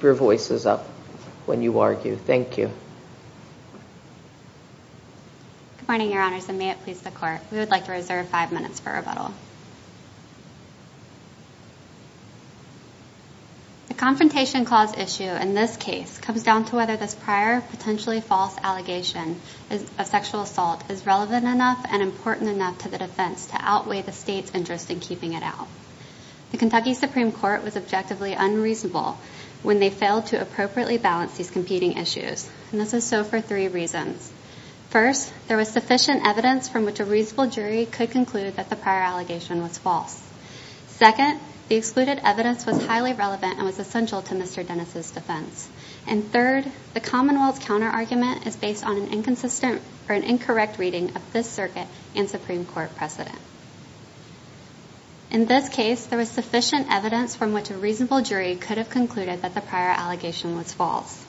your voices up when you argue. Thank you. Good morning, Your Honors, and may it please the Court. We would like to reserve five minutes for rebuttal. The Confrontation Clause issue in this case comes down to whether this prior, potentially false, allegation of sexual assault is relevant enough and important enough to the defense to outweigh the state's interest in keeping it out. The Kentucky Supreme Court was objectively unreasonable when they failed to appropriately balance these competing issues, and this is so for three reasons. First, there was sufficient evidence from which a reasonable jury could conclude that the prior allegation was false. Second, the excluded evidence was highly relevant and was essential to Mr. Dennis's defense. And third, the Commonwealth's counterargument is based on an inconsistent or an incorrect reading of this circuit and Supreme Court precedent. In this case, there was sufficient evidence from which a reasonable jury could have concluded that the prior allegation was false.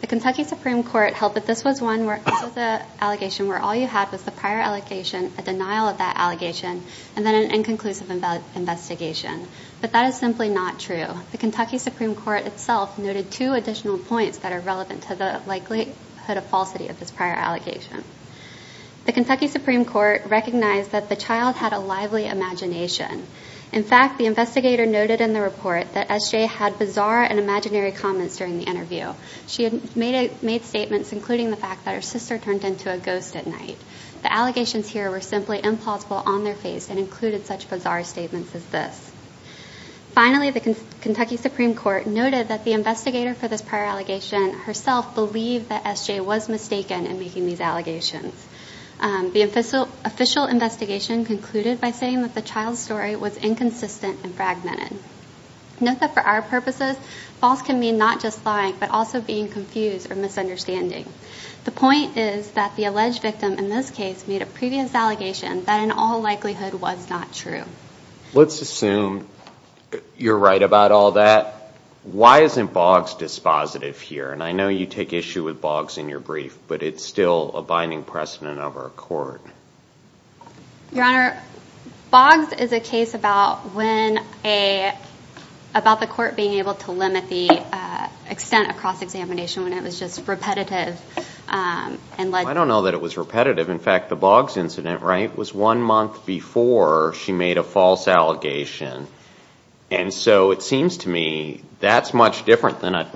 The Kentucky Supreme Court held that this was one where this was an allegation where all you had was the prior allegation, a denial of that allegation, and then an inconclusive investigation. But that is simply not true. The Kentucky Supreme Court itself noted two additional points that are relevant to the likelihood of falsity of this prior allegation. The Kentucky Supreme Court recognized that the child had a lively imagination. In fact, the investigator noted in the report that SJ had bizarre and imaginary comments during the interview. She had made statements including the fact that her sister turned into a ghost at night. The allegations here were simply implausible on their face and included such bizarre statements as this. Finally, the Kentucky Supreme Court noted that the investigator for this prior allegation herself believed that SJ was mistaken in making these allegations. The official investigation concluded by saying that the child's story was inconsistent and fragmented. Note that for our purposes, false can mean not just lying but also being confused or misunderstanding. The point is that the alleged victim in this case made a previous allegation that in all likelihood was not true. Let's assume you're right about all that. Why isn't Boggs dispositive here? And I know you take issue with Boggs in your brief, but it's still a binding precedent of our court. Your Honor, Boggs is a case about when a, about the court being able to limit the extent of cross-examination when it was just repetitive and led to- I don't know that it was repetitive. In fact, the Boggs incident, right, was one month before she made a false allegation. And so it seems to me that's much different than a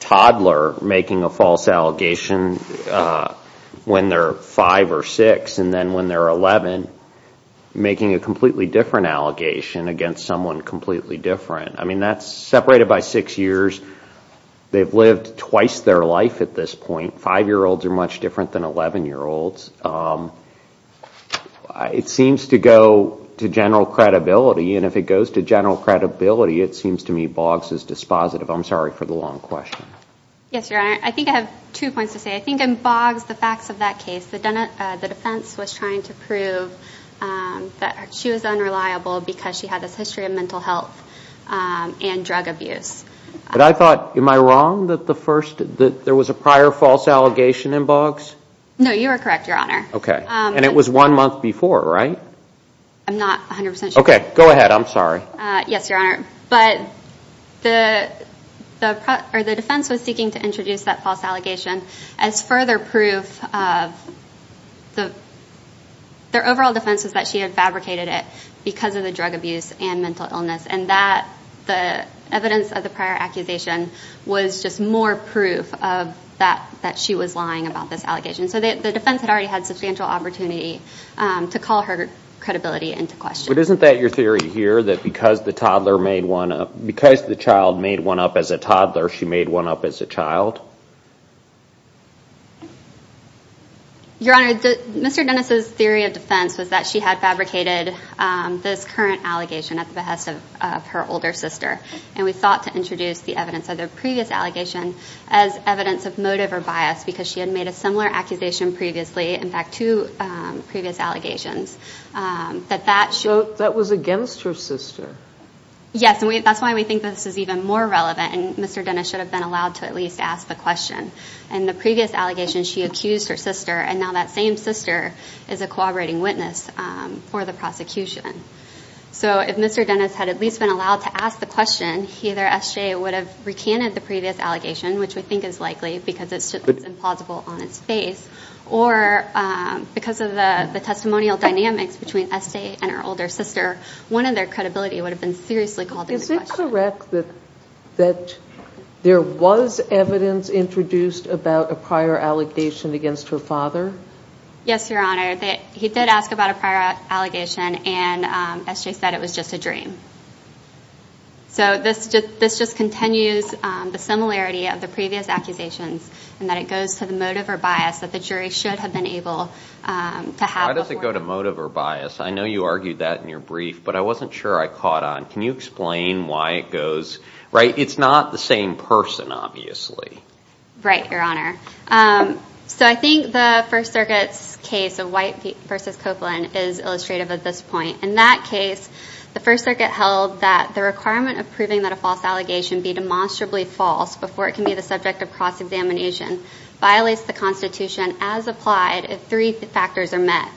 toddler making a false allegation when they're 5 or 6 and then when they're 11 making a completely different allegation against someone completely different. I mean, that's separated by 6 years. They've lived twice their life at this point. 5-year-olds are much different than 11-year-olds. It seems to go to general credibility. And if it goes to general credibility, it seems to me Boggs is dispositive. I'm sorry for the long question. Yes, Your Honor. I think I have two points to say. I think in Boggs, the facts of that case, the defense was trying to prove that she was unreliable because she had this history of mental health and drug abuse. But I thought, am I wrong that the first, that there was a prior false allegation in Boggs? No, you are correct, Your Honor. Okay. And it was one month before, right? I'm not 100% sure. Okay. Go ahead. I'm sorry. Yes, Your Honor. But the defense was seeking to introduce that false allegation as further proof of the, their overall defense was that she had fabricated it because of the drug abuse and mental illness. And that, the evidence of the prior accusation was just more proof of that, that she was lying about this allegation. So the defense had already had substantial opportunity to call her credibility into question. But isn't that your theory here, that because the toddler made one up, because the child made one up as a toddler, she made one up as a child? Your Honor, Mr. Dennis's theory of defense was that she had fabricated this current allegation at the behest of her older sister. And we thought to introduce the evidence of the previous allegation as evidence of motive or bias, because she had made a similar accusation previously, in fact, two previous allegations, that that should... That was against her sister? Yes. And that's why we think this is even more relevant. And Mr. Dennis should have been allowed to at least ask the question. In the previous allegation, she accused her sister and now that same sister is a cooperating witness for the prosecution. So if Mr. Dennis had at least been allowed to ask the question, either S.J. would have recanted the previous allegation, which we think is likely, because it's just implausible on its face, or because of the testimonial dynamics between S.J. and her older sister, one of their credibility would have been seriously called into question. Is it correct that there was evidence introduced about a prior allegation against her father? Yes, Your Honor. He did ask about a prior allegation and S.J. said it was just a dream. So this just continues the similarity of the previous accusations, in that it goes to the motive or bias that the jury should have been able to have before... Why does it go to motive or bias? I know you argued that in your brief, but I wasn't sure I caught on. Can you explain why it goes... Right, it's not the same person, obviously. Right, Your Honor. So I think the First Circuit's case of White v. Copeland is illustrative at this point. In that case, the First Circuit held that the requirement of proving that a false allegation be demonstrably false before it can be the subject of cross-examination violates the Constitution as applied if three factors are met.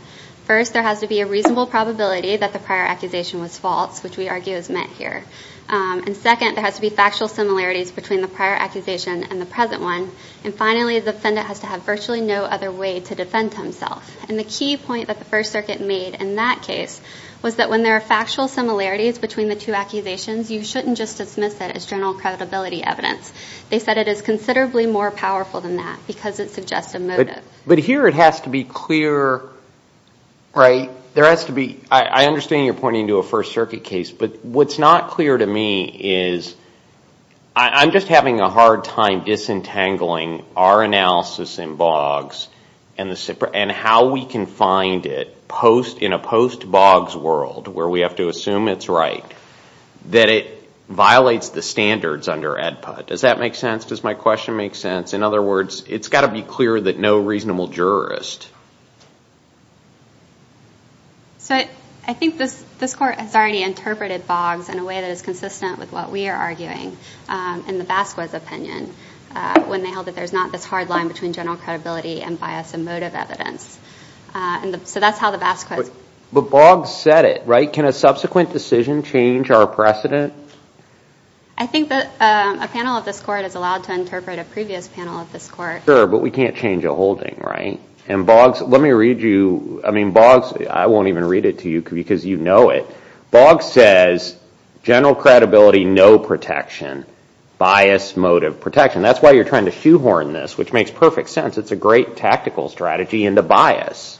First, there has to be a reasonable probability that the prior accusation was false, which we argue is met here. And the present one. And finally, the defendant has to have virtually no other way to defend himself. And the key point that the First Circuit made in that case was that when there are factual similarities between the two accusations, you shouldn't just dismiss it as general credibility evidence. They said it is considerably more powerful than that because it suggests a motive. But here it has to be clear, right? There has to be... I understand you're pointing to a First Circuit case, but what's not clear to me is... I'm just having a hard time disentangling our analysis in Boggs and how we can find it in a post-Boggs world, where we have to assume it's right, that it violates the standards under AEDPA. Does that make sense? Does my question make sense? In other words, it's got to be clear that no reasonable jurist... So I think this Court has already interpreted Boggs in a way that is consistent with what we are arguing in the Basquez opinion, when they held that there's not this hard line between general credibility and bias and motive evidence. So that's how the Basquez... But Boggs said it, right? Can a subsequent decision change our precedent? I think that a panel of this Court is allowed to interpret a previous panel of this Court. Sure, but we can't change a holding, right? And Boggs... Let me read you... I mean, Boggs... I'm going to read it to you because you know it. Boggs says, general credibility, no protection. Bias, motive, protection. That's why you're trying to shoehorn this, which makes perfect sense. It's a great tactical strategy into bias.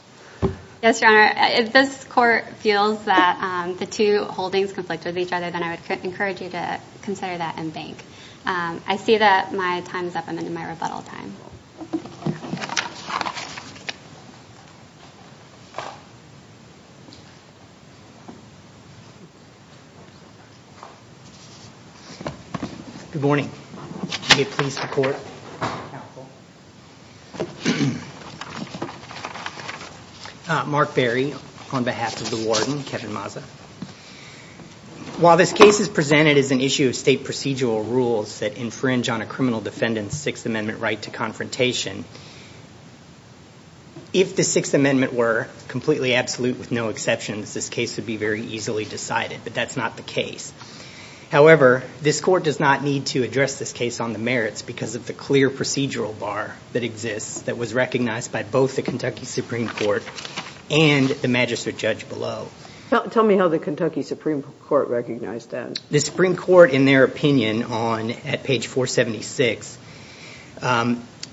Yes, Your Honor. If this Court feels that the two holdings conflict with each other, then I would encourage you to consider that and bank. I see that my time is up. I'm into my rebuttal time. Good morning. May it please the Court. Mark Berry, on behalf of the warden, Kevin Mazza. While this case is presented as an issue of state procedural rules that If the Sixth Amendment were completely absolute with no exceptions, this case would be very easily decided, but that's not the case. However, this Court does not need to address this case on the merits because of the clear procedural bar that exists that was recognized by both the Kentucky Supreme Court and the magistrate judge below. Tell me how the Kentucky Supreme Court recognized that. The Supreme Court, in their opinion, on at page 476,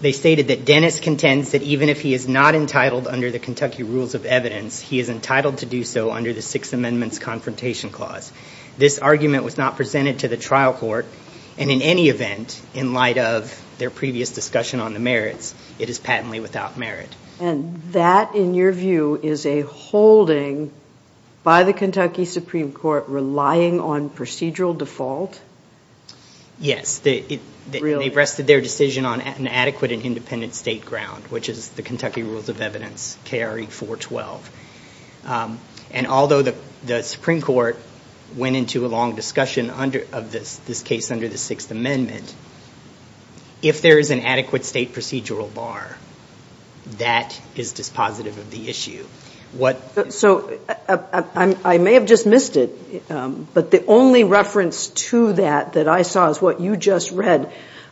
they stated that Dennis contends that even if he is not entitled under the Kentucky rules of evidence, he is entitled to do so under the Sixth Amendment's confrontation clause. This argument was not presented to the trial court, and in any event, in light of their previous discussion on the merits, it is patently without merit. And that, in your view, is a holding by the Kentucky Supreme Court relying on procedural default? Yes. They rested their decision on an adequate and independent state ground, which is the Kentucky rules of evidence, KRE 412. And although the Supreme Court went into a long discussion of this case under the Sixth Amendment, if there is an adequate state procedural bar, that is dispositive of the issue. So I may have just missed it, but the only reference to that that I saw is what you just read.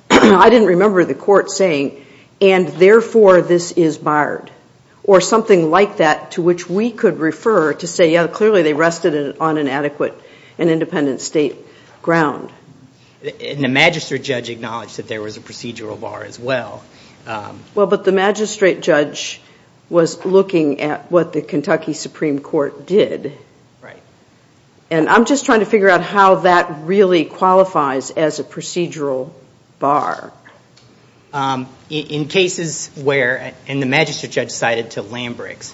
I didn't remember the Court saying, and therefore this is barred, or something like that to which we could refer to say, yeah, clearly they rested it on an adequate and independent state ground. And the magistrate judge acknowledged that there was a procedural bar as well. Well, but the magistrate judge was looking at what the Kentucky Supreme Court did. Right. And I'm just trying to figure out how that really qualifies as a procedural bar. In cases where, and the magistrate judge cited to Lambricks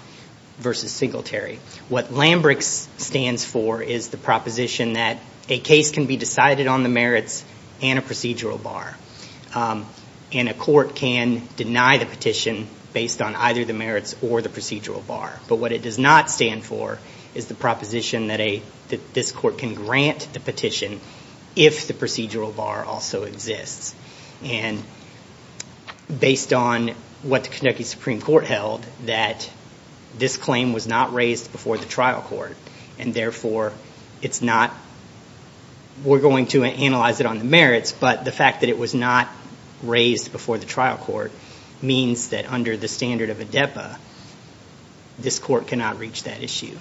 versus Singletary, what Lambricks stands for is the proposition that a case can be decided on the merits and a procedural bar. And a court can deny the petition based on either the merits or the procedural bar. But what it does not stand for is the proposition that this court can grant the petition if the procedural bar also exists. And based on what the Kentucky Supreme Court held, that this claim was not raised before the trial court. And therefore, it's not, we're going to analyze it on the merits, but the fact that it was not raised before the trial court means that under the standard of a DEPA, this court cannot reach that issue.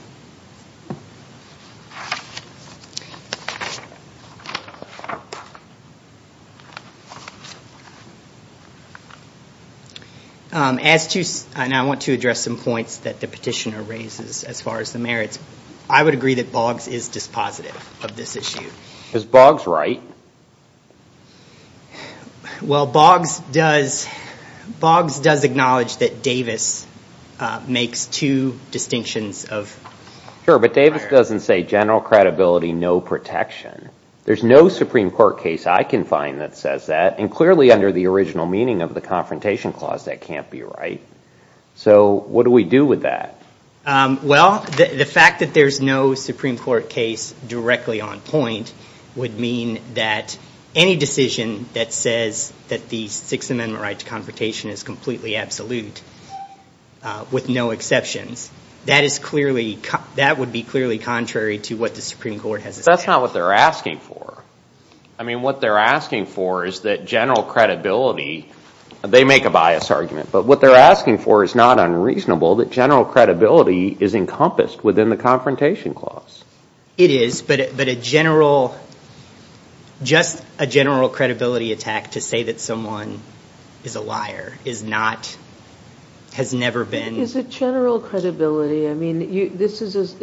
As to, and I want to address some points that the petitioner raises as far as the merits, I would agree that Boggs is dispositive of this issue. Is Boggs right? Well, Boggs does, Boggs does acknowledge that Davis makes two distinctions of. Sure, but Davis doesn't say general credibility, no protection. There's no Supreme Court case I can find that says that. And clearly under the original meaning of the Confrontation Clause, that can't be right. So what do we do with that? Well, the fact that there's no Supreme Court case directly on point would mean that any decision that says that the Sixth Amendment right to confrontation is completely absolute with no exceptions. That is clearly, that would be clearly contrary to what the Supreme Court has established. That's not what they're asking for. I mean, what they're asking for is that general credibility, they make a bias argument, but what they're asking for is not unreasonable. That general credibility is encompassed within the Confrontation Clause. It is, but a general, just a general credibility attack to say that someone is a liar is not, has never been. Is it general credibility? I mean, this is,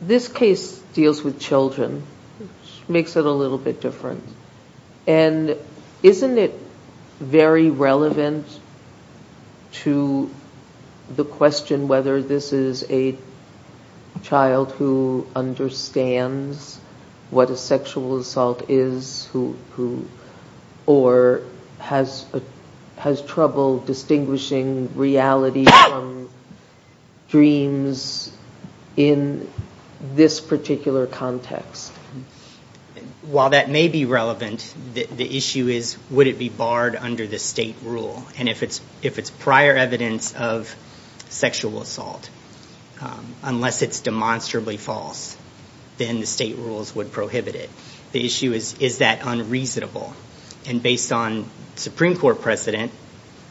this case deals with children, which makes it a little bit different. And isn't it very relevant to the question, whether this is a child who understands what a sexual assault is, or has trouble distinguishing reality from dreams in this particular context? And while that may be relevant, the issue is, would it be barred under the state rule? And if it's prior evidence of sexual assault, unless it's demonstrably false, then the state rules would prohibit it. The issue is, is that unreasonable? And based on Supreme Court precedent,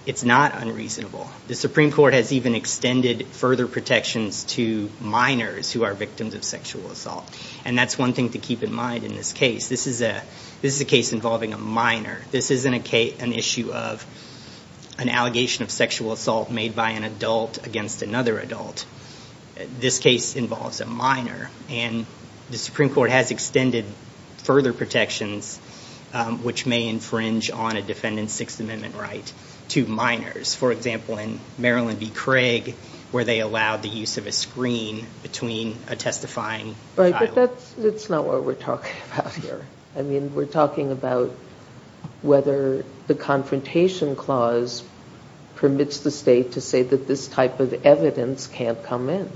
it's not unreasonable. The Supreme Court has even extended further protections to minors who are victims of sexual assault. And that's one thing to keep in mind in this case. This is a case involving a minor. This isn't an issue of an allegation of sexual assault made by an adult against another adult. This case involves a minor. And the Supreme Court has extended further protections, which may infringe on a defendant's Sixth Amendment right, to minors. For example, in Maryland v. Craig, where they allowed the use of a screen between a testifying It's not what we're talking about here. I mean, we're talking about whether the Confrontation Clause permits the state to say that this type of evidence can't come in.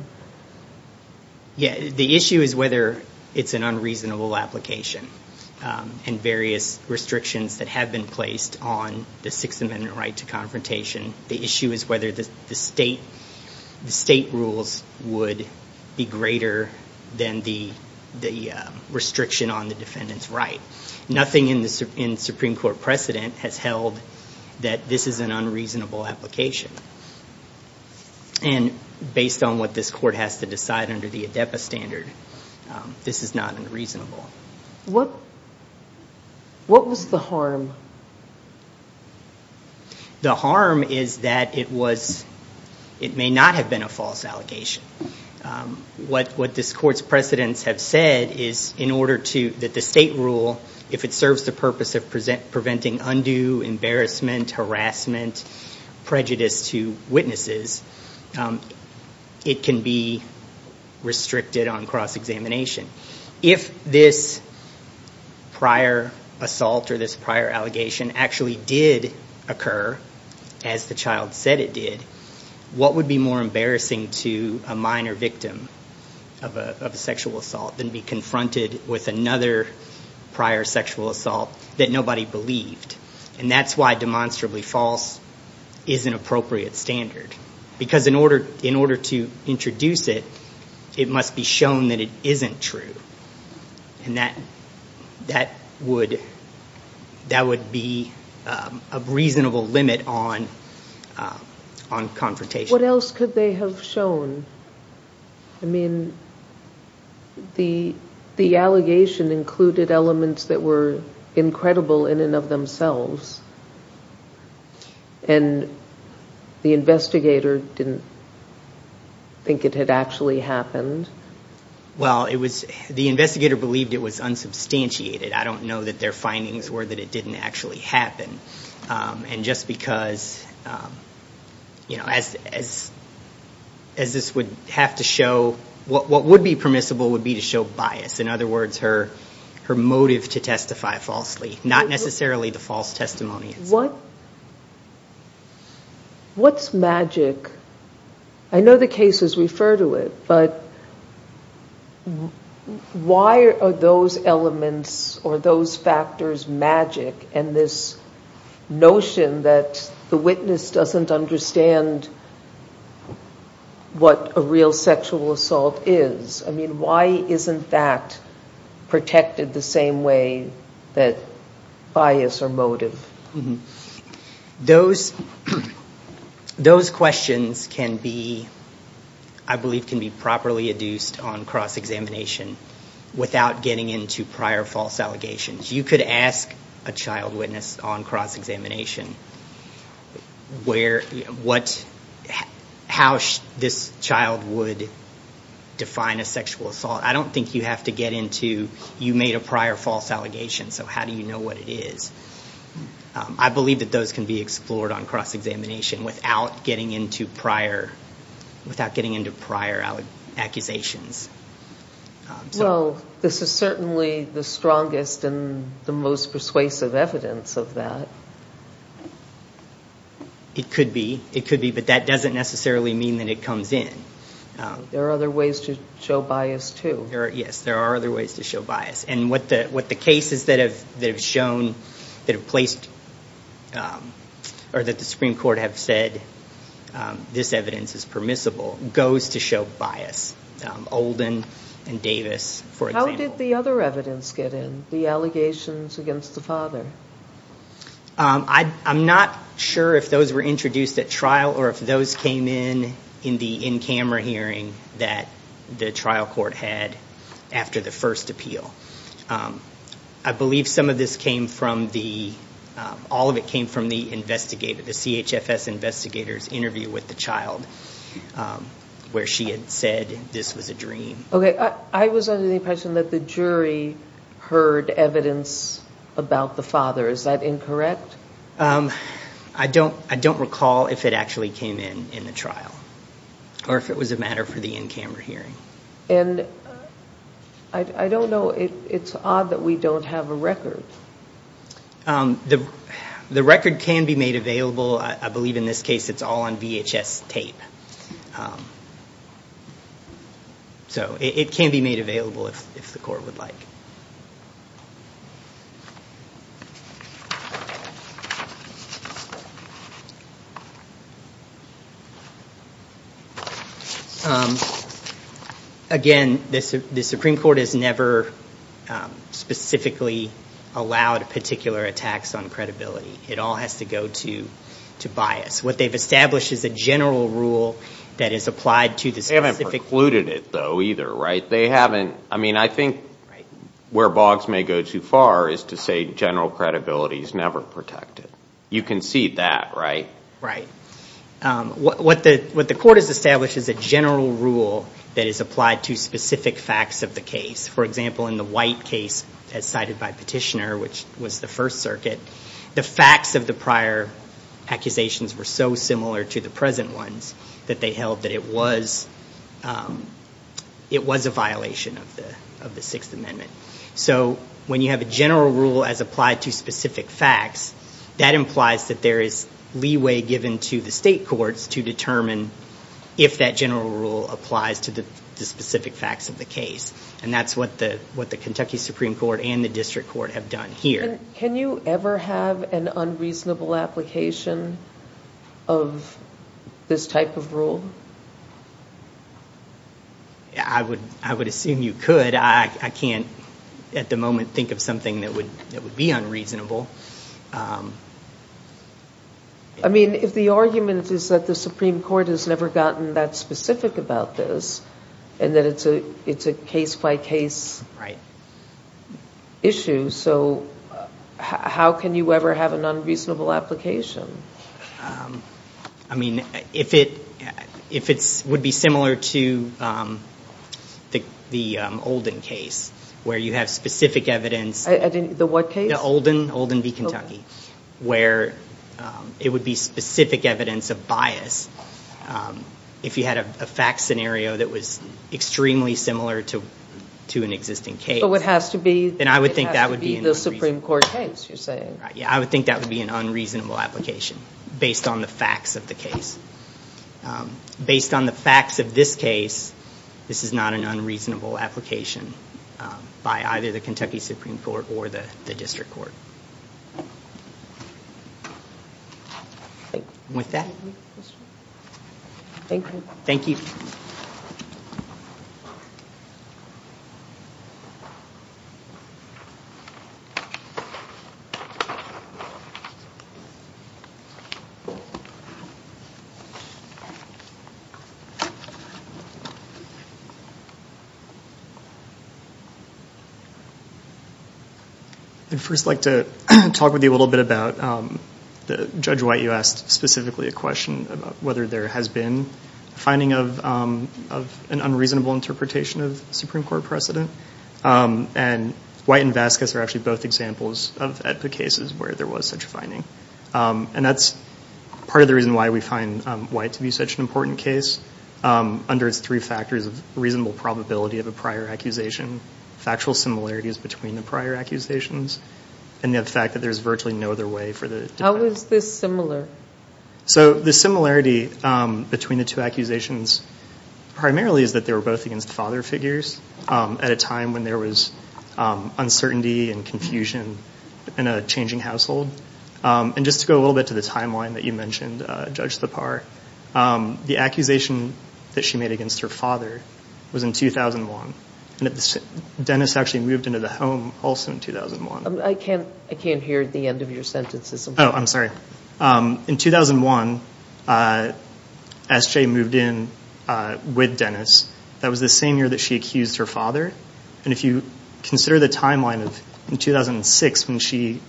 Yeah, the issue is whether it's an unreasonable application. And various restrictions that have been placed on the Sixth Amendment right to confrontation. The issue is whether the state rules would be greater than the restriction on the defendant's right. Nothing in the Supreme Court precedent has held that this is an unreasonable application. And based on what this court has to decide under the ADEPA standard, this is not unreasonable. What was the harm? The harm is that it was, it may not have been a false allegation. What this court's precedents have said is in order to, that the state rule, if it serves the purpose of preventing undue embarrassment, harassment, prejudice to witnesses, it can be restricted on cross-examination. If this prior assault or this prior allegation actually did occur, as the child said it did, what would be more embarrassing to a minor victim of a sexual assault than be confronted with another prior sexual assault that nobody believed? And that's why demonstrably false is an appropriate standard. Because in order to introduce it, it must be shown that it isn't true. And that would be a reasonable limit on confrontation. What else could they have shown? I mean, the allegation included elements that were incredible in and of themselves. And the investigator didn't think it had actually happened? Well, it was, the investigator believed it was unsubstantiated. I don't know that their findings were that it didn't actually happen. And just because, you know, as this would have to show, what would be permissible would be to show bias, in other words, her motive to testify falsely. Not necessarily the false testimony. What's magic? I know the cases refer to it, but why are those elements or those factors magic? And this notion that the witness doesn't understand what a real sexual assault is. Why isn't that protected the same way that bias or motive? Those questions can be, I believe, can be properly adduced on cross-examination without getting into prior false allegations. You could ask a child witness on cross-examination where, what, how this child would define a sexual assault. I don't think you have to get into, you made a prior false allegation, so how do you know what it is? I believe that those can be explored on cross-examination without getting into prior, without getting into prior accusations. Well, this is certainly the strongest and the most persuasive evidence of that. It could be, it could be, but that doesn't necessarily mean that it comes in. There are other ways to show bias too. Yes, there are other ways to show bias. And what the cases that have shown, that have placed, or that the Supreme Court have said this evidence is permissible, goes to show bias. Olden and Davis, for example. How did the other evidence get in? The allegations against the father? I'm not sure if those were introduced at trial or if those came in in the in-camera hearing that the trial court had after the first appeal. I believe some of this came from the, all of it came from the investigator, the CHFS investigator's interview with the child where she had said this was a dream. Okay, I was under the impression that the jury heard evidence about the father. Is that incorrect? I don't, I don't recall if it actually came in in the trial or if it was a matter for the in-camera hearing. And I don't know, it's odd that we don't have a record. The record can be made available. I believe in this case it's all on VHS tape. So it can be made available if the court would like. Again, the Supreme Court has never specifically allowed particular attacks on credibility. It all has to go to bias. What they've established is a general rule that is applied to the specific. They haven't precluded it though either, right? They haven't, I mean, I think where Boggs may go too far is to say general credibility is never protected. You can see that, right? Right. What the court has established is a general rule that is applied to specific facts of the case. For example, in the White case as cited by Petitioner, which was the First Circuit, the facts of the prior accusations were so similar to the present ones that they held that it was a violation of the Sixth Amendment. So when you have a general rule as applied to specific facts, that implies that there is leeway given to the state courts to determine if that general rule applies to the specific facts of the case. And that's what the Kentucky Supreme Court and the District Court have done here. Can you ever have an unreasonable application of this type of rule? I would assume you could. I can't at the moment think of something that would be unreasonable. I mean, if the argument is that the Supreme Court has never gotten that specific about this and that it's a case-by-case issue. So how can you ever have an unreasonable application? I mean, if it would be similar to the Olden case, where you have specific evidence... The what case? The Olden v. Kentucky, where it would be specific evidence of bias if you had a fact scenario that was extremely similar to an existing case. But what has to be... I would think that would be an unreasonable application based on the facts of the case. Based on the facts of this case, this is not an unreasonable application by either the Kentucky Supreme Court or the District Court. With that, thank you. I'd first like to talk with you a little bit about... Judge White, you asked specifically a question about whether there has been finding of an unreasonable interpretation of Supreme Court precedent. And White and Vasquez are actually both examples of cases where there was such a finding. And that's part of the reason why we find White to be such an important case, under its three factors of reasonable probability of a prior accusation, factual similarities between the prior accusations, and the fact that there's virtually no other way for the... How is this similar? So the similarity between the two accusations primarily is that they were both against father figures at a time when there was uncertainty and confusion in a changing household. And just to go a little bit to the timeline that you mentioned, Judge Thapar, the accusation that she made against her father was in 2001. And Dennis actually moved into the home also in 2001. I can't hear the end of your sentences. Oh, I'm sorry. In 2001, SJ moved in with Dennis. That was the same year that she accused her father. And if you consider the timeline of 2006 when she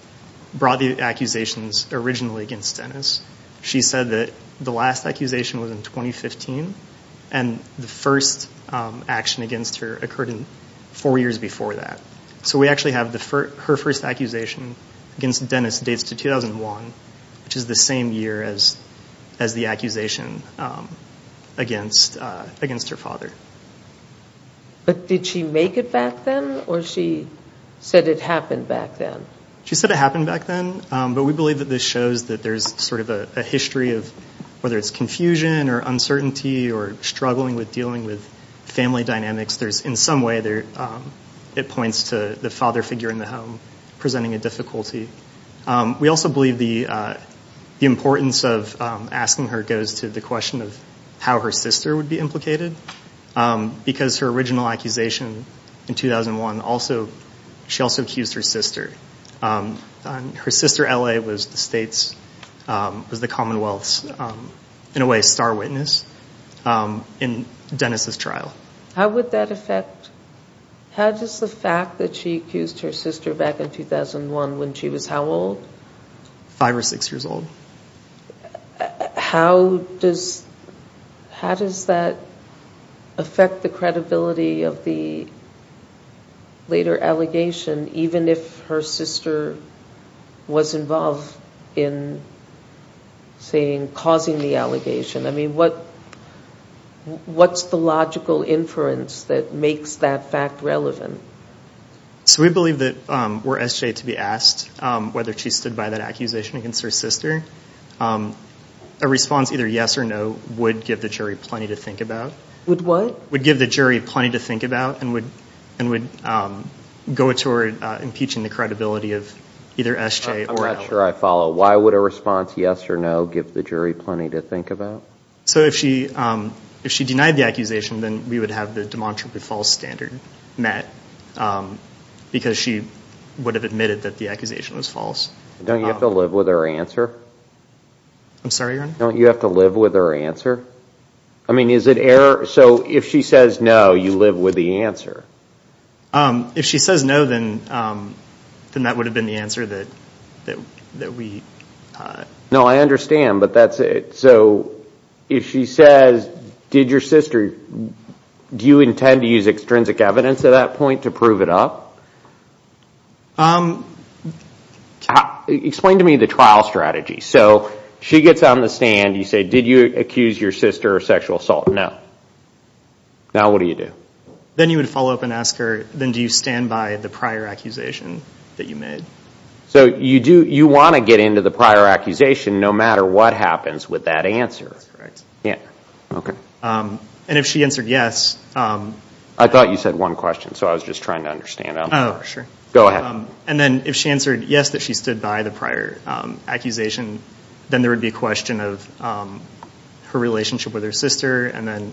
brought the accusations originally against Dennis, she said that the last accusation was in 2015. And the first action against her occurred in four years before that. So we actually have her first accusation against Dennis dates to 2001, which is the same year as the accusation against her father. But did she make it back then? Or she said it happened back then? She said it happened back then. But we believe that this shows that there's sort of a history of whether it's confusion or uncertainty or struggling with dealing with family dynamics. There's, in some way, it points to the father figure in the home presenting a difficulty. We also believe the importance of asking her goes to the question of how her sister would be implicated. Because her original accusation in 2001, she also accused her sister. Her sister, LA, was the Commonwealth's, in a way, star witness in Dennis's trial. How would that affect... How does the fact that she accused her sister back in 2001, when she was how old? Five or six years old. How does that affect the credibility of the later allegation, even if her sister was involved in causing the allegation? I mean, what's the logical inference that makes that fact relevant? So we believe that were SJ to be asked whether she stood by that accusation against her sister, a response either yes or no would give the jury plenty to think about. Would what? Would give the jury plenty to think about and would go toward impeaching the credibility of either SJ or LA. I'm not sure I follow. Why would a response yes or no give the jury plenty to think about? So if she denied the accusation, then we would have the demonstrably false standard met because she would have admitted that the accusation was false. Don't you have to live with her answer? I'm sorry, your honor? Don't you have to live with her answer? I mean, is it error? So if she says no, you live with the answer? If she says no, then that would have been the answer that we... No, I understand, but that's it. So if she says, did your sister... Do you intend to use extrinsic evidence at that point to prove it up? Explain to me the trial strategy. So she gets on the stand, you say, did you accuse your sister of sexual assault? No. Now what do you do? Then you would follow up and ask her, then do you stand by the prior accusation that you made? So you want to get into the prior accusation no matter what happens with that answer. That's correct. Yeah, okay. And if she answered yes... I thought you said one question, so I was just trying to understand. Go ahead. And then if she answered yes, that she stood by the prior accusation, then there would be a question of her relationship with her sister, and then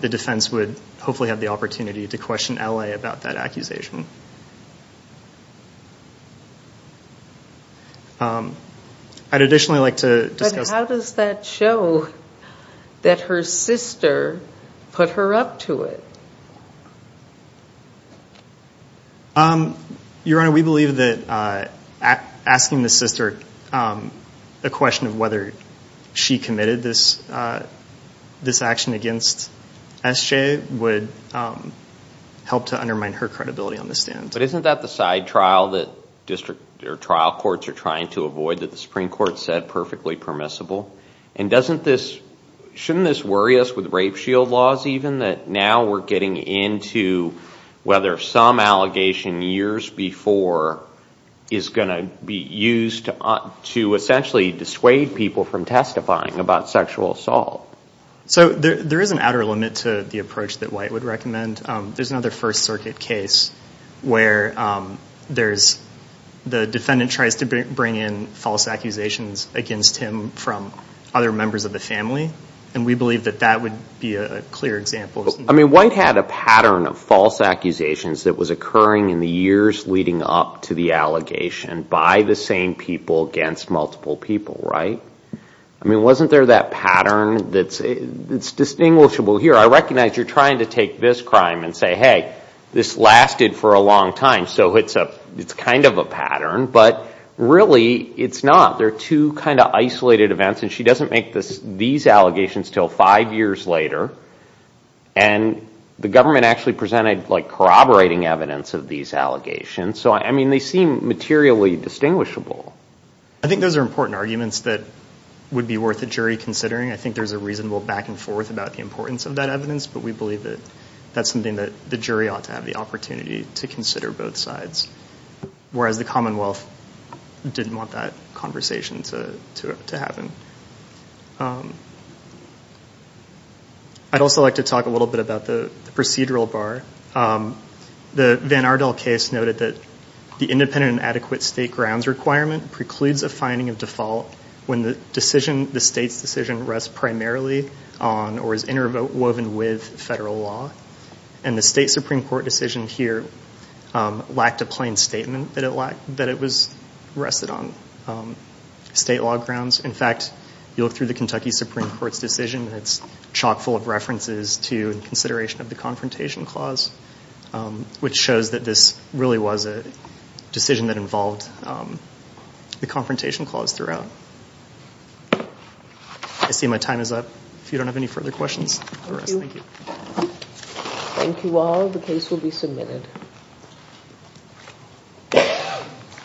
the defense would hopefully have the opportunity to question LA about that accusation. I'd additionally like to discuss... But how does that show that her sister put her up to it? Your Honor, we believe that asking the sister a question of whether she committed this action against SJ would help to undermine her credibility on the stand. Isn't that the side trial that district or trial courts are trying to avoid, that the Supreme Court said perfectly permissible? And shouldn't this worry us with rape shield laws even, that now we're getting into whether some allegation years before is going to be used to essentially dissuade people from testifying about sexual assault? So there is an outer limit to the approach that White would recommend. There's another First Circuit case where the defendant tries to bring in false accusations against him from other members of the family, and we believe that that would be a clear example. I mean, White had a pattern of false accusations that was occurring in the years leading up to the allegation by the same people against multiple people, right? I mean, wasn't there that pattern that's distinguishable here? I recognize you're trying to take this crime and say, hey, this lasted for a long time, so it's kind of a pattern, but really it's not. There are two kind of isolated events, and she doesn't make these allegations until five years later, and the government actually presented corroborating evidence of these allegations. So I mean, they seem materially distinguishable. I think those are important arguments that would be worth a jury considering. I think there's a reasonable back and forth about the importance of that evidence, but we believe that that's something that the jury ought to have the opportunity to consider both sides, whereas the Commonwealth didn't want that conversation to happen. I'd also like to talk a little bit about the procedural bar. The Van Ardel case noted that the independent and adequate state grounds requirement precludes a finding of default when the state's decision rests primarily on or is interwoven with federal law, and the state Supreme Court decision here lacked a plain statement that it was rested on state law grounds. In fact, you look through the Kentucky Supreme Court's decision, and it's chock full of references to and consideration of the confrontation clause, which shows that this really was a the confrontation clause throughout. I see my time is up. If you don't have any further questions, thank you. Thank you all. The case will be submitted.